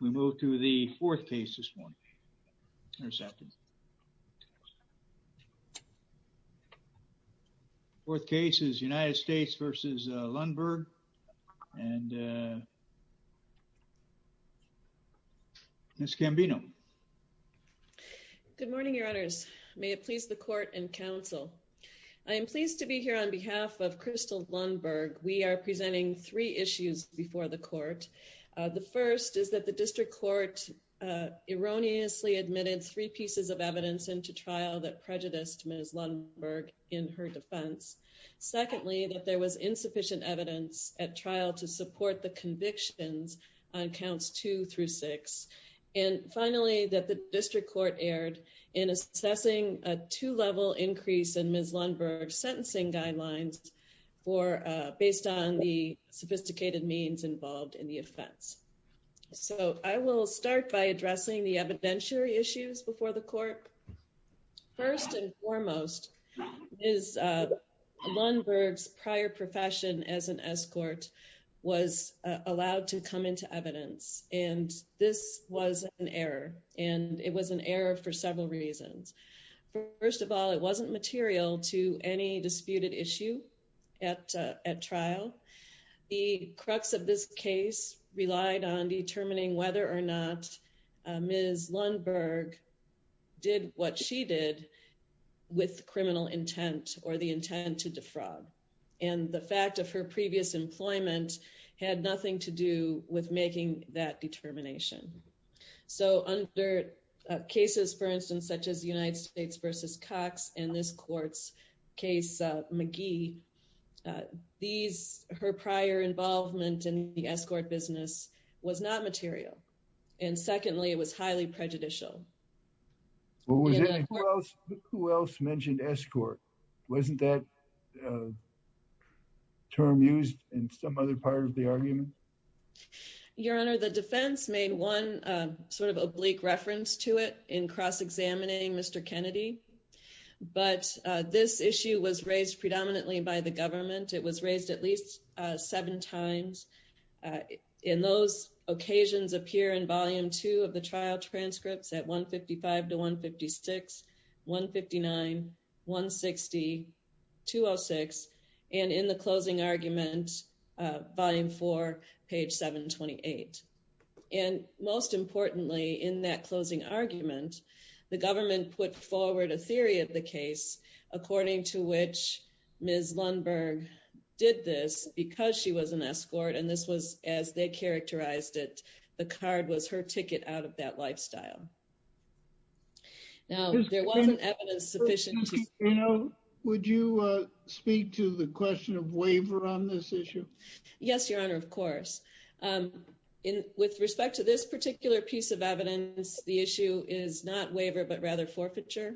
We move to the fourth case this morning, intercepted. Fourth case is United States v. Lundberg, and Ms. Cambino. Good morning, your honors. May it please the court and counsel. I am pleased to be here on behalf of Crystal Lundberg. We are presenting three issues before the court. The first is that the district court erroneously admitted three pieces of evidence into trial that prejudiced Ms. Lundberg in her defense. Secondly, that there was insufficient evidence at trial to support the convictions on counts two through six. And finally, that the district court erred in assessing a two-level increase in Ms. Lundberg's sentencing guidelines for based on the sophisticated means involved in the offense. So I will start by addressing the evidentiary issues before the court. First and foremost, Ms. Lundberg's prior profession as an escort was allowed to come into evidence, and this was an error, and it was an error for several reasons. First of all, it wasn't material to any disputed issue at trial. The crux of this case relied on determining whether or not Ms. Lundberg did what she did with criminal intent or the intent to defraud. And the fact of her previous employment had nothing to do with making that determination. So under cases, for instance, such as the United States versus Cox and this court's case, McGee, her prior involvement in the escort business was not material. And secondly, it was highly prejudicial. Who else mentioned escort? Wasn't that term used in some other part of the argument? Your Honor, the defense made one sort of oblique reference to it in cross-examining Mr. Kennedy, but this issue was raised predominantly by the government. It was raised at least seven times. And those occasions appear in volume two of the trial transcripts at 155 to 156, 159, 160, 206, and in the closing argument, volume four, page 728. And most importantly, in that closing argument, the government put forward a theory of the case according to which Ms. Lundberg did this because she was an escort. And this was as they characterized it, the card was her ticket out of that lifestyle. Now, there wasn't evidence sufficient to- Would you speak to the question of waiver on this issue? Yes, Your Honor, of course. With respect to this particular piece of evidence, the issue is not waiver, but rather forfeiture.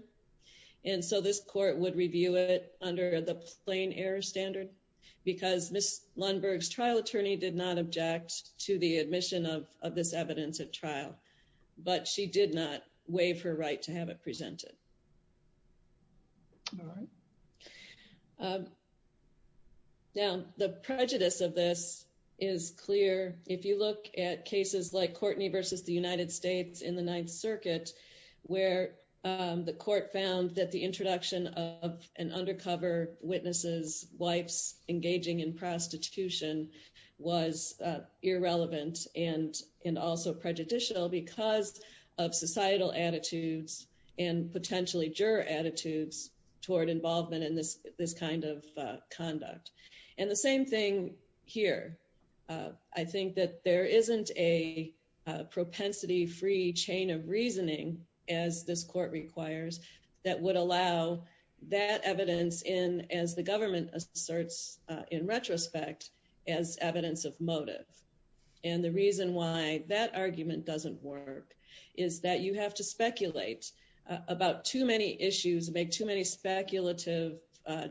And so this court would review it under the plain error standard because Ms. Lundberg's trial attorney did not object to the admission of this evidence at trial, but she did not waive her right to have it presented. All right. Now, the prejudice of this is clear. If you look at cases like Courtney versus the United States in the Ninth Circuit, where the court found that the introduction of an undercover witness's wife's engaging in prostitution was irrelevant and also prejudicial because of societal attitudes and potentially juror attitudes toward involvement in this kind of conduct. And the same thing here. I think that there isn't a propensity-free chain of reasoning as this court requires that would allow that evidence in, as the government asserts in retrospect, as evidence of motive. And the reason why that argument doesn't work is that you have to speculate about too many issues and make too many speculative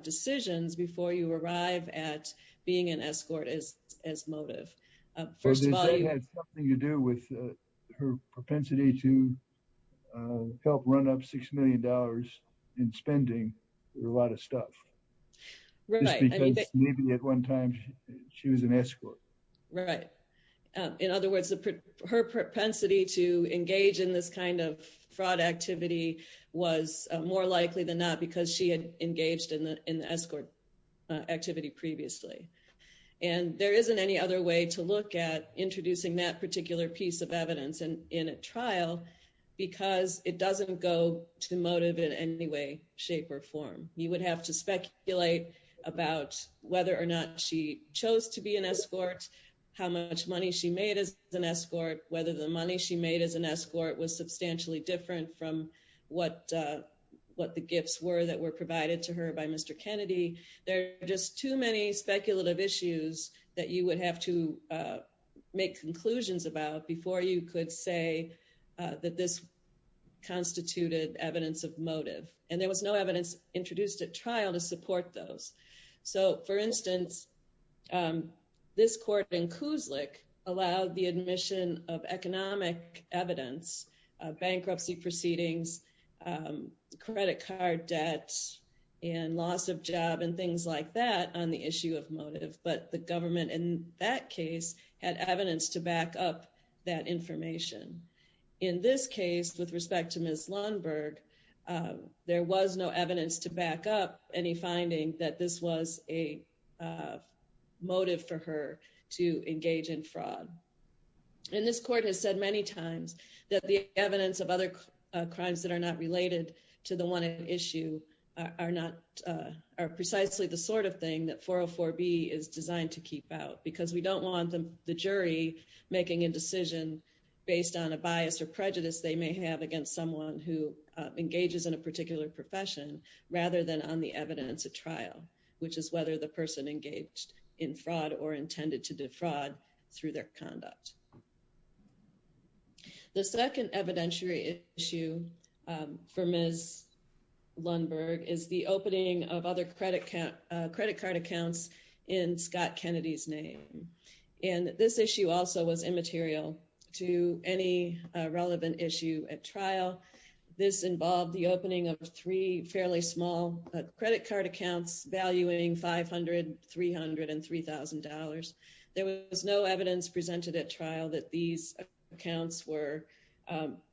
decisions before you arrive at being an escort as motive. First of all- So does that have something to do with her propensity to help run up $6 million in spending a lot of stuff? Right. Just because maybe at one time she was an escort. Right. In other words, her propensity to engage in this kind of fraud activity was more likely than not because she had engaged in the escort activity previously. And there isn't any other way to look at introducing that particular piece of evidence in a trial because it doesn't go to motive in any way, shape or form. You would have to speculate about whether or not she chose to be an escort, how much money she made as an escort, whether the money she made as an escort was substantially different from what the gifts were that were provided to her by Mr. Kennedy. There are just too many speculative issues that you would have to make conclusions about before you could say that this constituted evidence of motive. And there was no evidence introduced at trial to support those. So for instance, this court in Kuznick allowed the admission of economic evidence, bankruptcy proceedings, credit card debts, and loss of job and things like that on the issue of motive. But the government in that case had evidence to back up that information. In this case, with respect to Ms. Lundberg, there was no evidence to back up any finding that this was a motive for her to engage in fraud. And this court has said many times that the evidence of other crimes that are not related to the one issue are precisely the sort of thing that 404B is designed to keep out because we don't want the jury making a decision based on a bias or prejudice they may have against someone who engages in a particular profession rather than on the evidence at trial, which is whether the person engaged in fraud or intended to defraud through their conduct. The second evidentiary issue for Ms. Lundberg is the opening of other credit card accounts in Scott Kennedy's name. to any relevant issue at trial. This involved the opening of three fairly small credit card accounts valuing 500, 300 and $3,000. There was no evidence presented at trial that these accounts were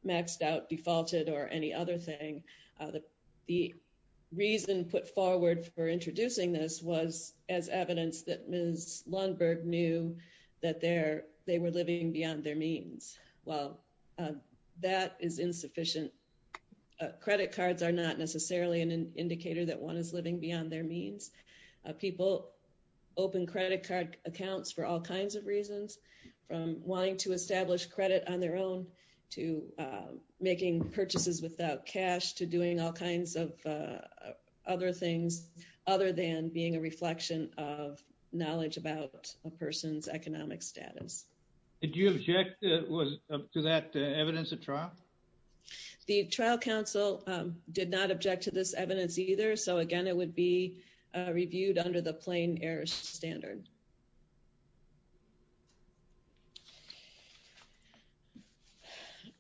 maxed out, defaulted or any other thing. The reason put forward for introducing this was as evidence that Ms. Lundberg knew that they were living beyond their means. While that is insufficient, credit cards are not necessarily an indicator that one is living beyond their means. People open credit card accounts for all kinds of reasons from wanting to establish credit on their own to making purchases without cash to doing all kinds of other things other than being a reflection of knowledge about a person's economic status. Did you object to that evidence at trial? The trial counsel did not object to this evidence either. So again, it would be reviewed under the plain air standard.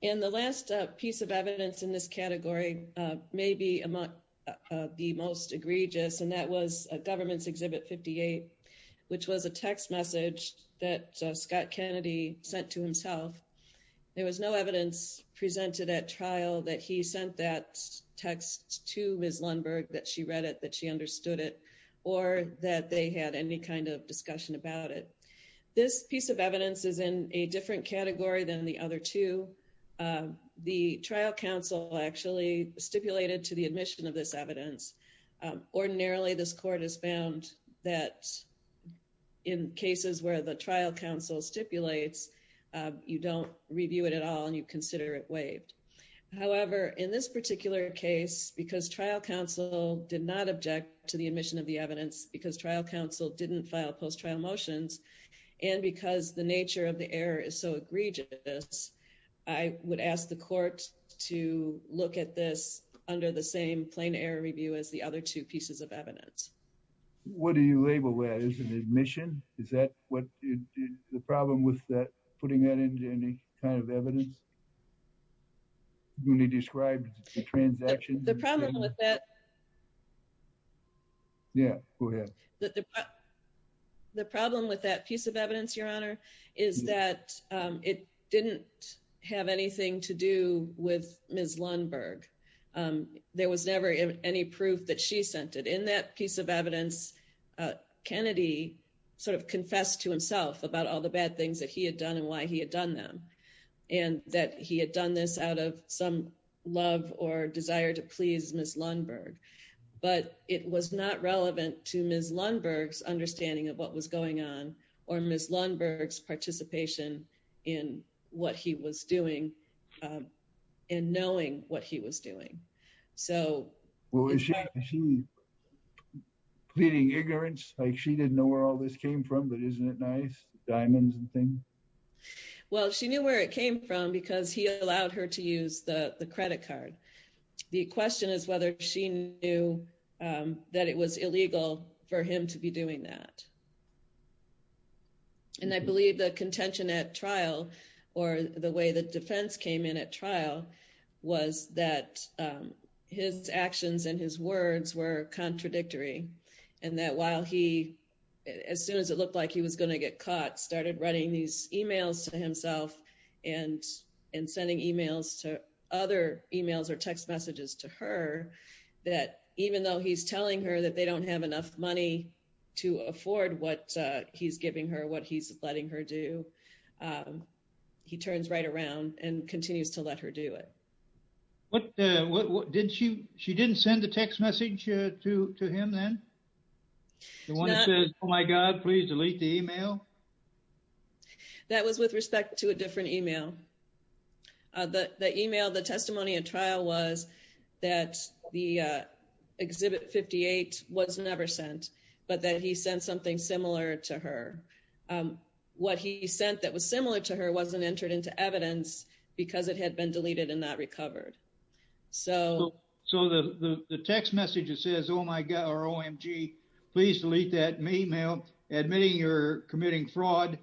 And the last piece of evidence in this category may be the most egregious and that was a government's exhibit 58, which was a text message that Scott Kennedy sent to himself. There was no evidence presented at trial that he sent that text to Ms. Lundberg, that she read it, that she understood it or that they had any kind of discussion about it. This piece of evidence is in a different category than the other two. The trial counsel actually stipulated to the admission of this evidence. Ordinarily, this court has found that in cases where the trial counsel stipulates, you don't review it at all and you consider it waived. However, in this particular case, because trial counsel did not object to the admission of the evidence because trial counsel didn't file post-trial motions and because the nature of the error is so egregious, I would ask the court to look at this under the same plain error review as the other two pieces of evidence. What do you label that? Is it an admission? Is that what the problem with that, putting that into any kind of evidence? When he described the transaction- The problem with that- Yeah, go ahead. The problem with that piece of evidence, Your Honor, is that it didn't have anything to do with Ms. Lundberg. There was never any proof that she sent it. In that piece of evidence, Kennedy sort of confessed to himself about all the bad things that he had done and why he had done them, and that he had done this out of some love or desire to please Ms. Lundberg. But it was not relevant to Ms. Lundberg's understanding of what was going on or Ms. Lundberg's participation in what he was doing and knowing what he was doing. So- Well, was she pleading ignorance? Like she didn't know where all this came from, but isn't it nice, diamonds and things? Well, she knew where it came from because he allowed her to use the credit card. The question is whether she knew that it was illegal for him to be doing that. And I believe the contention at trial or the way the defense came in at trial was that his actions and his words were contradictory. And that while he, as soon as it looked like he was gonna get caught, started writing these emails to himself and sending other emails or text messages to her, that even though he's telling her that they don't have enough money to afford what he's giving her, what he's letting her do, he turns right around and continues to let her do it. She didn't send a text message to him then? The one that says, oh my God, please delete the email? That was with respect to a different email. The email, the testimony at trial was that the Exhibit 58 was never sent, but that he sent something similar to her. What he sent that was similar to her wasn't entered into evidence because it had been deleted and not recovered. So the text message that says, oh my God, or OMG, please delete that email, admitting you're committing fraud,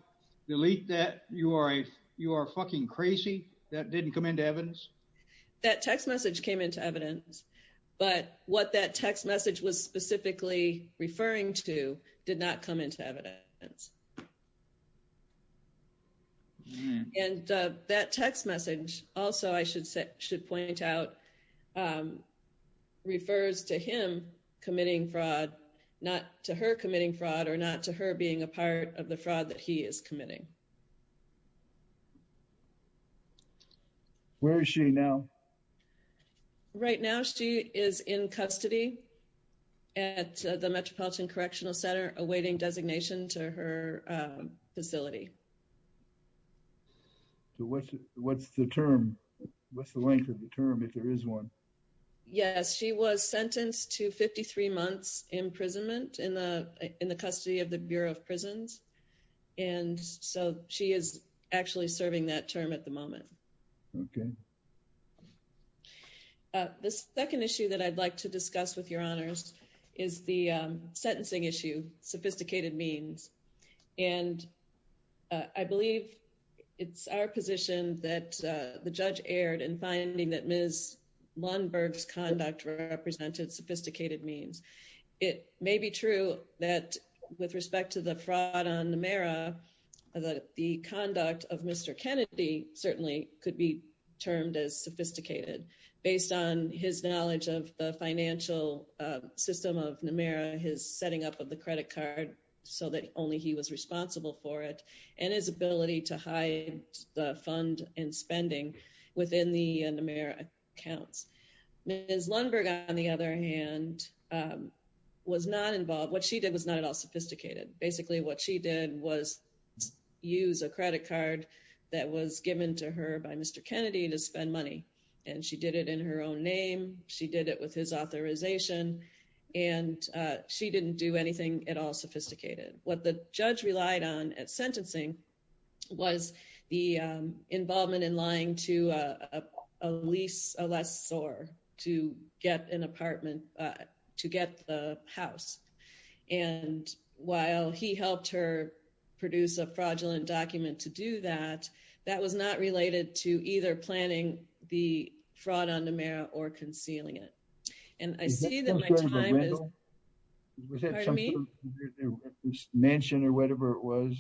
delete that, you are fucking crazy, that didn't come into evidence? That text message came into evidence, but what that text message was specifically referring to did not come into evidence. And that text message also, I should point out, refers to him committing fraud, not to her committing fraud, or not to her being a part of the fraud that he is committing. Where is she now? Right now she is in custody at the Metropolitan Correctional Center, awaiting designation to her, facility. So what's the term? What's the length of the term if there is one? Yes, she was sentenced to 53 months imprisonment in the custody of the Bureau of Prisons. And so she is actually serving that term at the moment. Okay. The second issue that I'd like to discuss with your honors is the sentencing issue, sophisticated means. And I believe it's our position that the judge aired in finding that Ms. Lundberg's conduct represented sophisticated means. It may be true that with respect to the fraud on Namera, the conduct of Mr. Kennedy certainly could be termed as sophisticated based on his knowledge of the financial system of Namera, his setting up of the credit card so that only he was responsible for it, and his ability to hide the fund and spending within the Namera accounts. Ms. Lundberg, on the other hand, was not involved. What she did was not at all sophisticated. Basically what she did was use a credit card that was given to her by Mr. Kennedy to spend money. And she did it in her own name, she did it with his authorization, and she didn't do anything at all sophisticated. What the judge relied on at sentencing was the involvement in lying to a lease lessor to get an apartment, to get the house. And while he helped her produce a fraudulent document to do that, that was not related to either planning the fraud on Namera or concealing it. And I see that my time is- Is that some kind of a rental? Was that something- Pardon me? Mansion or whatever it was,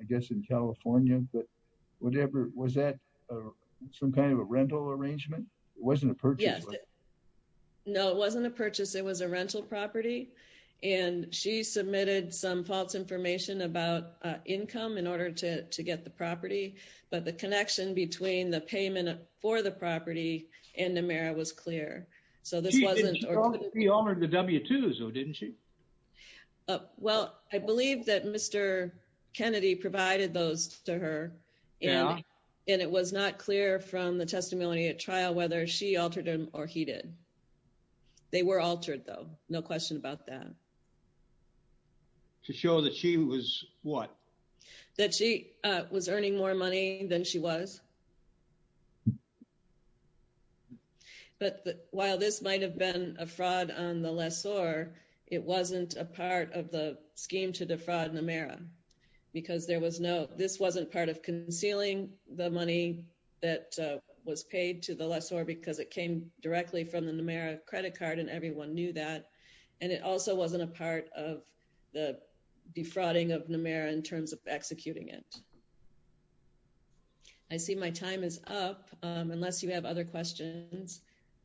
I guess in California, but whatever, was that some kind of a rental arrangement? It wasn't a purchase, was it? No, it wasn't a purchase, it was a rental property. And she submitted some false information about income in order to get the property, but the connection between the payment for the property and Namera was clear. So this wasn't- She didn't show that she honored the W-2s, though, didn't she? Well, I believe that Mr. Kennedy provided those to her, and it was not clear from the testimony at trial whether she altered them or he did. They were altered, though, no question about that. To show that she was what? That she was earning more money than she was. But while this might've been a fraud on the lessor, it wasn't a part of the scheme to defraud Namera because there was no- This wasn't part of concealing the money that was paid to the lessor because it came directly from the Namera credit card, and everyone knew that. And it also wasn't a part of the defrauding of Namera in terms of executing it. I see my time is up. Unless you have other questions,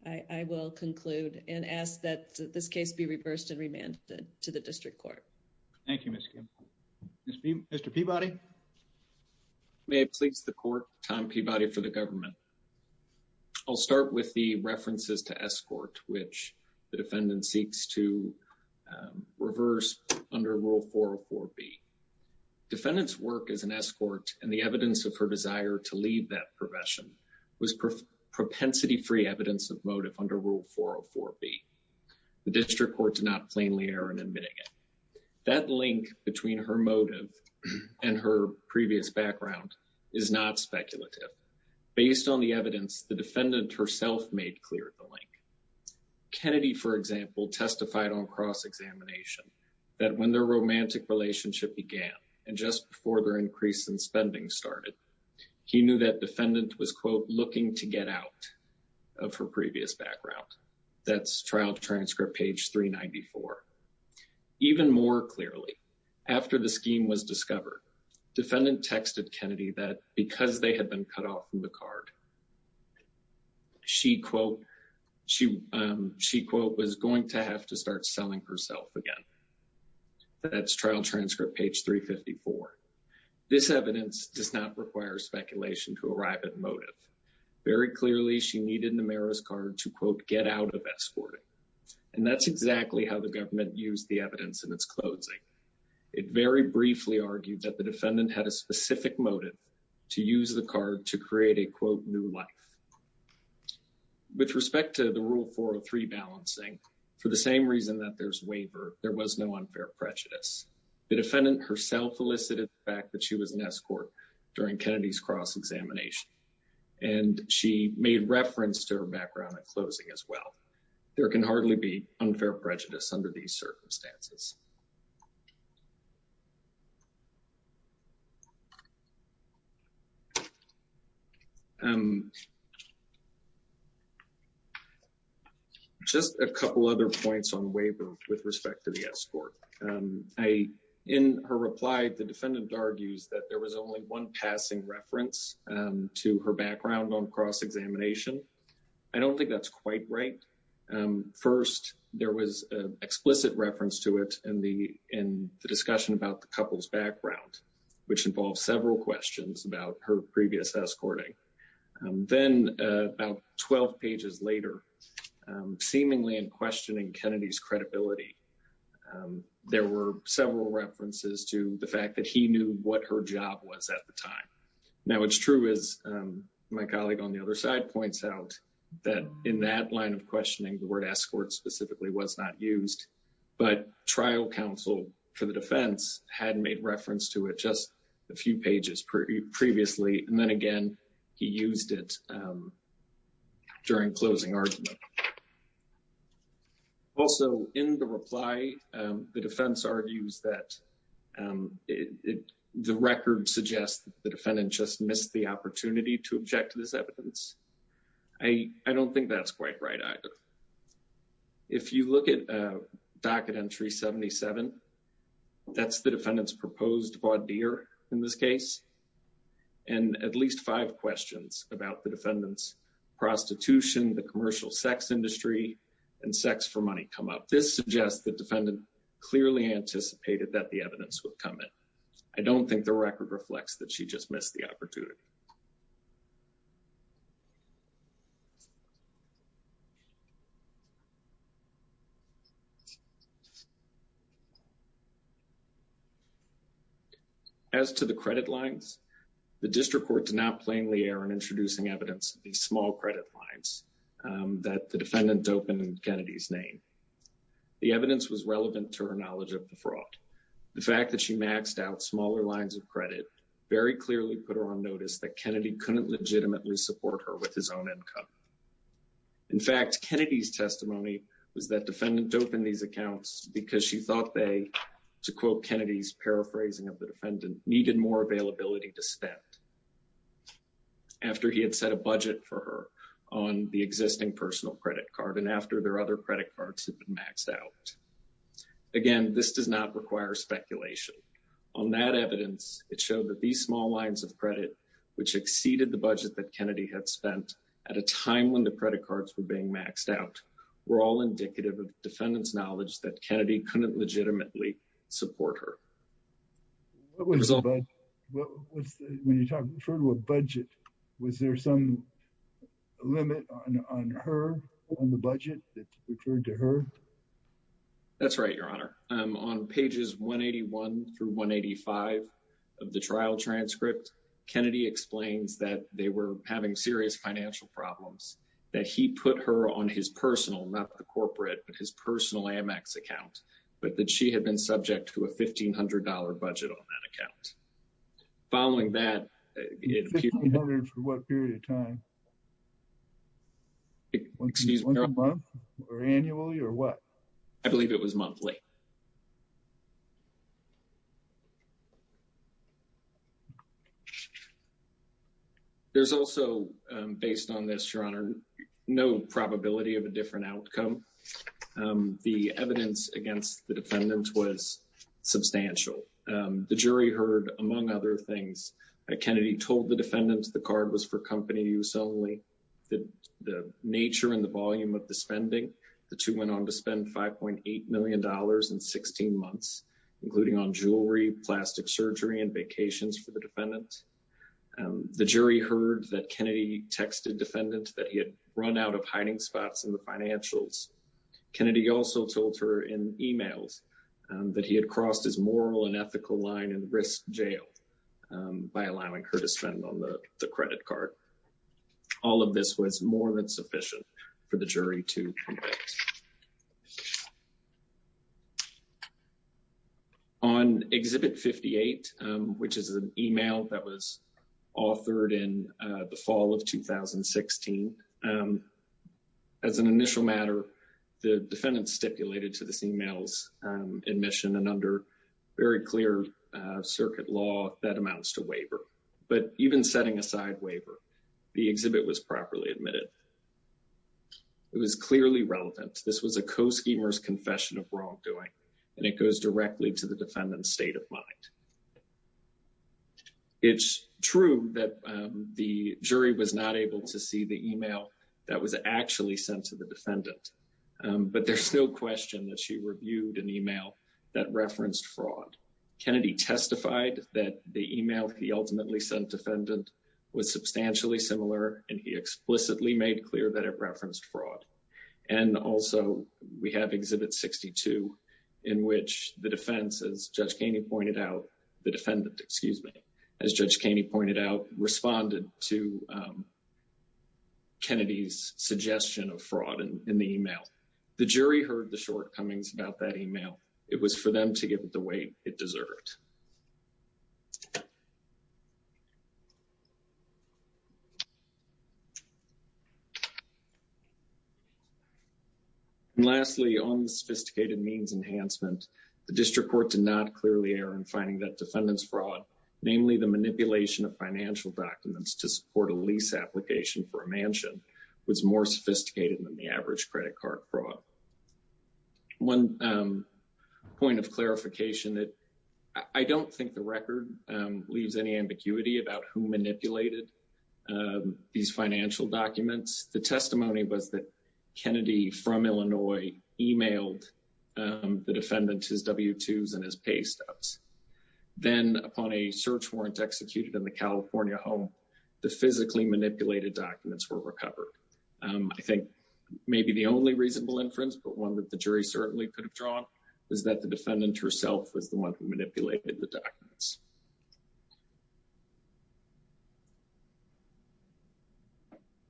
I will conclude and ask that this case be reversed and remanded to the district court. Thank you, Ms. Kim. Mr. Peabody. May I please the court, Tom Peabody for the government. I'll start with the references to S-court, which the defendant seeks to reverse under Rule 404B. Defendant's work as an S-court and the evidence of her desire to leave that profession was propensity-free evidence of motive under Rule 404B. The district court did not plainly err in admitting it. That link between her motive and her previous background is not speculative. Based on the evidence, the defendant herself made clear the link. Kennedy, for example, testified on cross-examination that when their romantic relationship began and just before their increase in spending started, he knew that defendant was, quote, looking to get out of her previous background. That's trial transcript page 394. Even more clearly, after the scheme was discovered, defendant texted Kennedy that because they had been cut off from the card, she, quote, was going to have to start selling herself again That's trial transcript page 354. This evidence does not require speculation to arrive at motive. Very clearly, she needed Numeris card to, quote, get out of S-court. And that's exactly how the government used the evidence in its closing. It very briefly argued that the defendant had a specific motive to use the card to create a, quote, new life. With respect to the Rule 403 balancing, for the same reason that there's waiver, there was no unfair prejudice. The defendant herself elicited the fact that she was in S-court during Kennedy's cross-examination. And she made reference to her background at closing as well. There can hardly be unfair prejudice under these circumstances. Just a couple other points on waiver with respect to the S-court. In her reply, the defendant argues that there was only one passing reference to her background on cross-examination. I don't think that's quite right. First, there was an explicit reference to it in the discussion about the couple's background, which involves several questions about her previous S-courting. Then about 12 pages later, seemingly in questioning Kennedy's credibility, there were several references to the fact that he knew what her job was at the time. Now, it's true, as my colleague on the other side points out, that in that line of questioning, the word S-court specifically was not used. But trial counsel for the defense had made reference to it just a few pages previously. And then again, he used it during closing argument. Also in the reply, the defense argues that the record suggests that the defendant just missed the opportunity to object to this evidence. I don't think that's quite right either. If you look at docket entry 77, that's the defendant's proposed voir dire in this case. And at least five questions about the defendant's prostitution, the commercial sex industry, and sex for money come up. This suggests the defendant clearly anticipated that the evidence would come in. I don't think the record reflects that she just missed the opportunity. As to the credit lines, the district court did not plainly err in introducing evidence of these small credit lines that the defendant doped in Kennedy's name. The evidence was relevant to her knowledge of the fraud. The fact that she maxed out smaller lines of credit smaller lines of credit very clearly put her on notice that she was not aware of the fraud. In fact, Kennedy's testimony was that defendant doped in these accounts because she thought they, to quote Kennedy's paraphrasing of the defendant, needed more availability to spend after he had set a budget for her on the existing personal credit card and after their other credit cards had been maxed out. Again, this does not require speculation. were not the only evidence that the defendant which exceeded the budget that Kennedy had spent at a time when the credit cards were being maxed out were all indicative of defendant's knowledge that Kennedy couldn't legitimately support her. When you refer to a budget, was there some limit on her on the budget that referred to her? That's right, your honor. On pages 181 through 185 of the trial transcript, Kennedy explains that they were having serious financial problems, that he put her on his personal, not the corporate, but his personal Amex account, but that she had been subject to a $1,500 budget on that account. Following that- $1,500 for what period of time? Excuse me, your honor. Was it monthly or annually or what? I believe it was monthly. There's also, based on this, your honor, no probability of a different outcome. The evidence against the defendant was substantial. The jury heard, among other things, that Kennedy told the defendants the card was for company use only, the nature and the volume of the spending. The two went on to spend $5.8 million in 16 months, including on jewelry, plastic surgery, and vacations for the defendants. The jury heard that Kennedy texted defendants that he had run out of hiding spots in the financials. Kennedy also told her in emails that he had crossed his moral and ethical line and risked jail by allowing her to spend on the credit card. All of this was more than sufficient for the jury to convict. On Exhibit 58, which is an email that was authored in the fall of 2016, as an initial matter, the defendant stipulated to this email's admission, and under very clear circuit law, that amounts to waiver. But even setting aside waiver, the exhibit was properly admitted. It was clearly relevant. This was a co-schemer's confession of wrongdoing, and it goes directly to the defendant's state of mind. It's true that the jury was not able to see the email that was actually sent to the defendant, but there's no question that she reviewed an email that referenced fraud. Kennedy testified that the email he ultimately sent defendant was substantially similar, and he explicitly made clear that it referenced fraud. And also, we have Exhibit 62, in which the defense, as Judge Kaney pointed out, the defendant, excuse me, as Judge Kaney pointed out, responded to Kennedy's suggestion of fraud in the email. The jury heard the shortcomings about that email. It was for them to give it the weight it deserved. And lastly, on the sophisticated means enhancement, the district court did not clearly err in finding that defendant's fraud, namely the manipulation of financial documents to support a lease application for a mansion, was more sophisticated than the average credit card fraud. One point of clarification, that I don't think the record leaves any ambiguity about who manipulated these financial documents. The testimony was that Kennedy, from Illinois, emailed the defendant his W-2s and his pay stubs. Then, upon a search warrant executed in the California home, the physically manipulated documents were recovered. I think maybe the only reasonable inference, but one that the jury certainly could have drawn, is that the defendant herself was the one who manipulated the documents.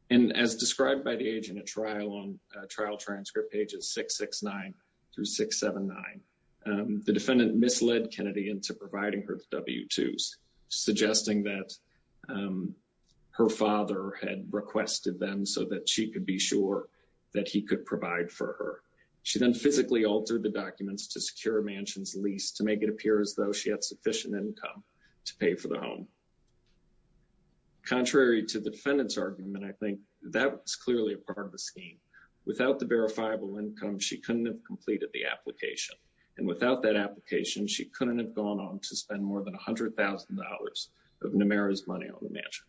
And as described by the agent at trial on trial transcript pages 669 through 679, the defendant misled Kennedy into providing her the W-2s, suggesting that her father had requested them so that she could be sure that he could provide for her. She then physically altered the documents to secure a mansion's lease, to make it appear as though she had sufficient income to pay for the home. Contrary to the defendant's argument, I think that was clearly a part of the scheme. Without the verifiable income, she couldn't have completed the application. And without that application, she couldn't have gone on to spend more than $100,000 of Numera's money on the mansion.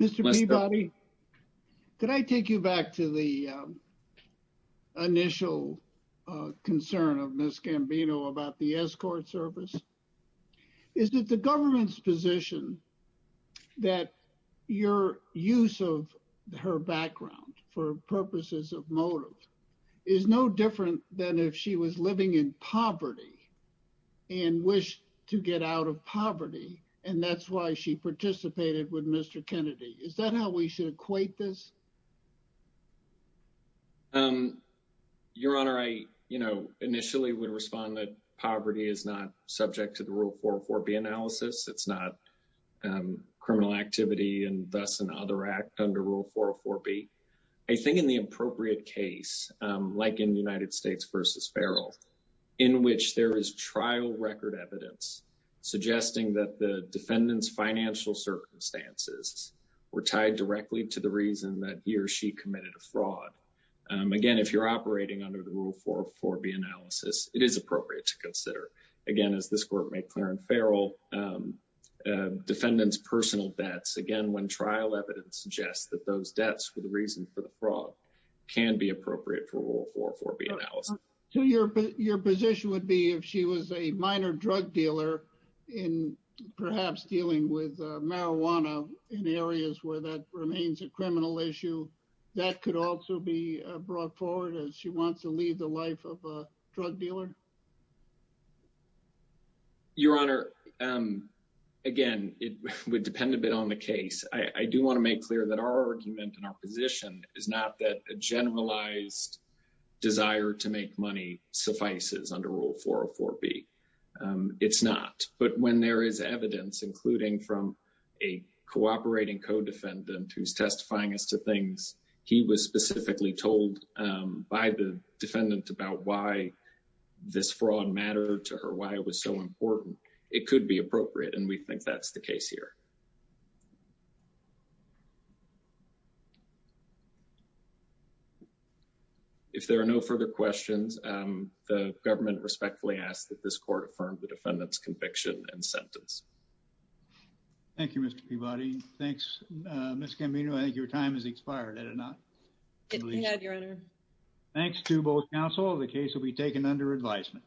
Mr. Peabody, could I take you back to the initial concern of Ms. Gambino about the escort service? Is it the government's position that your use of her background for purposes of motive is no different than if she was living in poverty and wished to get out of poverty, and that's why she participated with Mr. Kennedy? Is that how we should equate this? Your Honor, I initially would respond that poverty is not subject to the Rule 404B analysis. It's not criminal activity, and thus an other act under Rule 404B. I think in the appropriate case, like in United States v. Farrell, in which there is trial record evidence suggesting that the defendant's financial circumstances were tied directly to the reason that he or she committed a fraud. Again, if you're operating under the Rule 404B analysis, it is appropriate to consider. Again, as this Court made clear in Farrell, defendant's personal debts. Again, when trial evidence suggests that those debts were the reason for the fraud can be appropriate for Rule 404B analysis. So your position would be if she was a minor drug dealer in perhaps dealing with marijuana in areas where that remains a criminal issue, that could also be brought forward as she wants to lead the life of a drug dealer? Your Honor, again, it would depend a bit on the case. I do wanna make clear that our argument and our position is not that a generalized desire to make money suffices under Rule 404B. It's not. But when there is evidence, including from a cooperating co-defendant who's testifying as to things he was specifically told by the defendant about why this fraud mattered to her, why it was so important, it could be appropriate. And we think that's the case here. If there are no further questions, the government respectfully asks that this Court affirm the defendant's conviction and sentence. Thank you, Mr. Peabody. Thanks, Ms. Camino. I think your time has expired, had it not? It had, Your Honor. Thanks to both counsel. The case will be taken under advisement.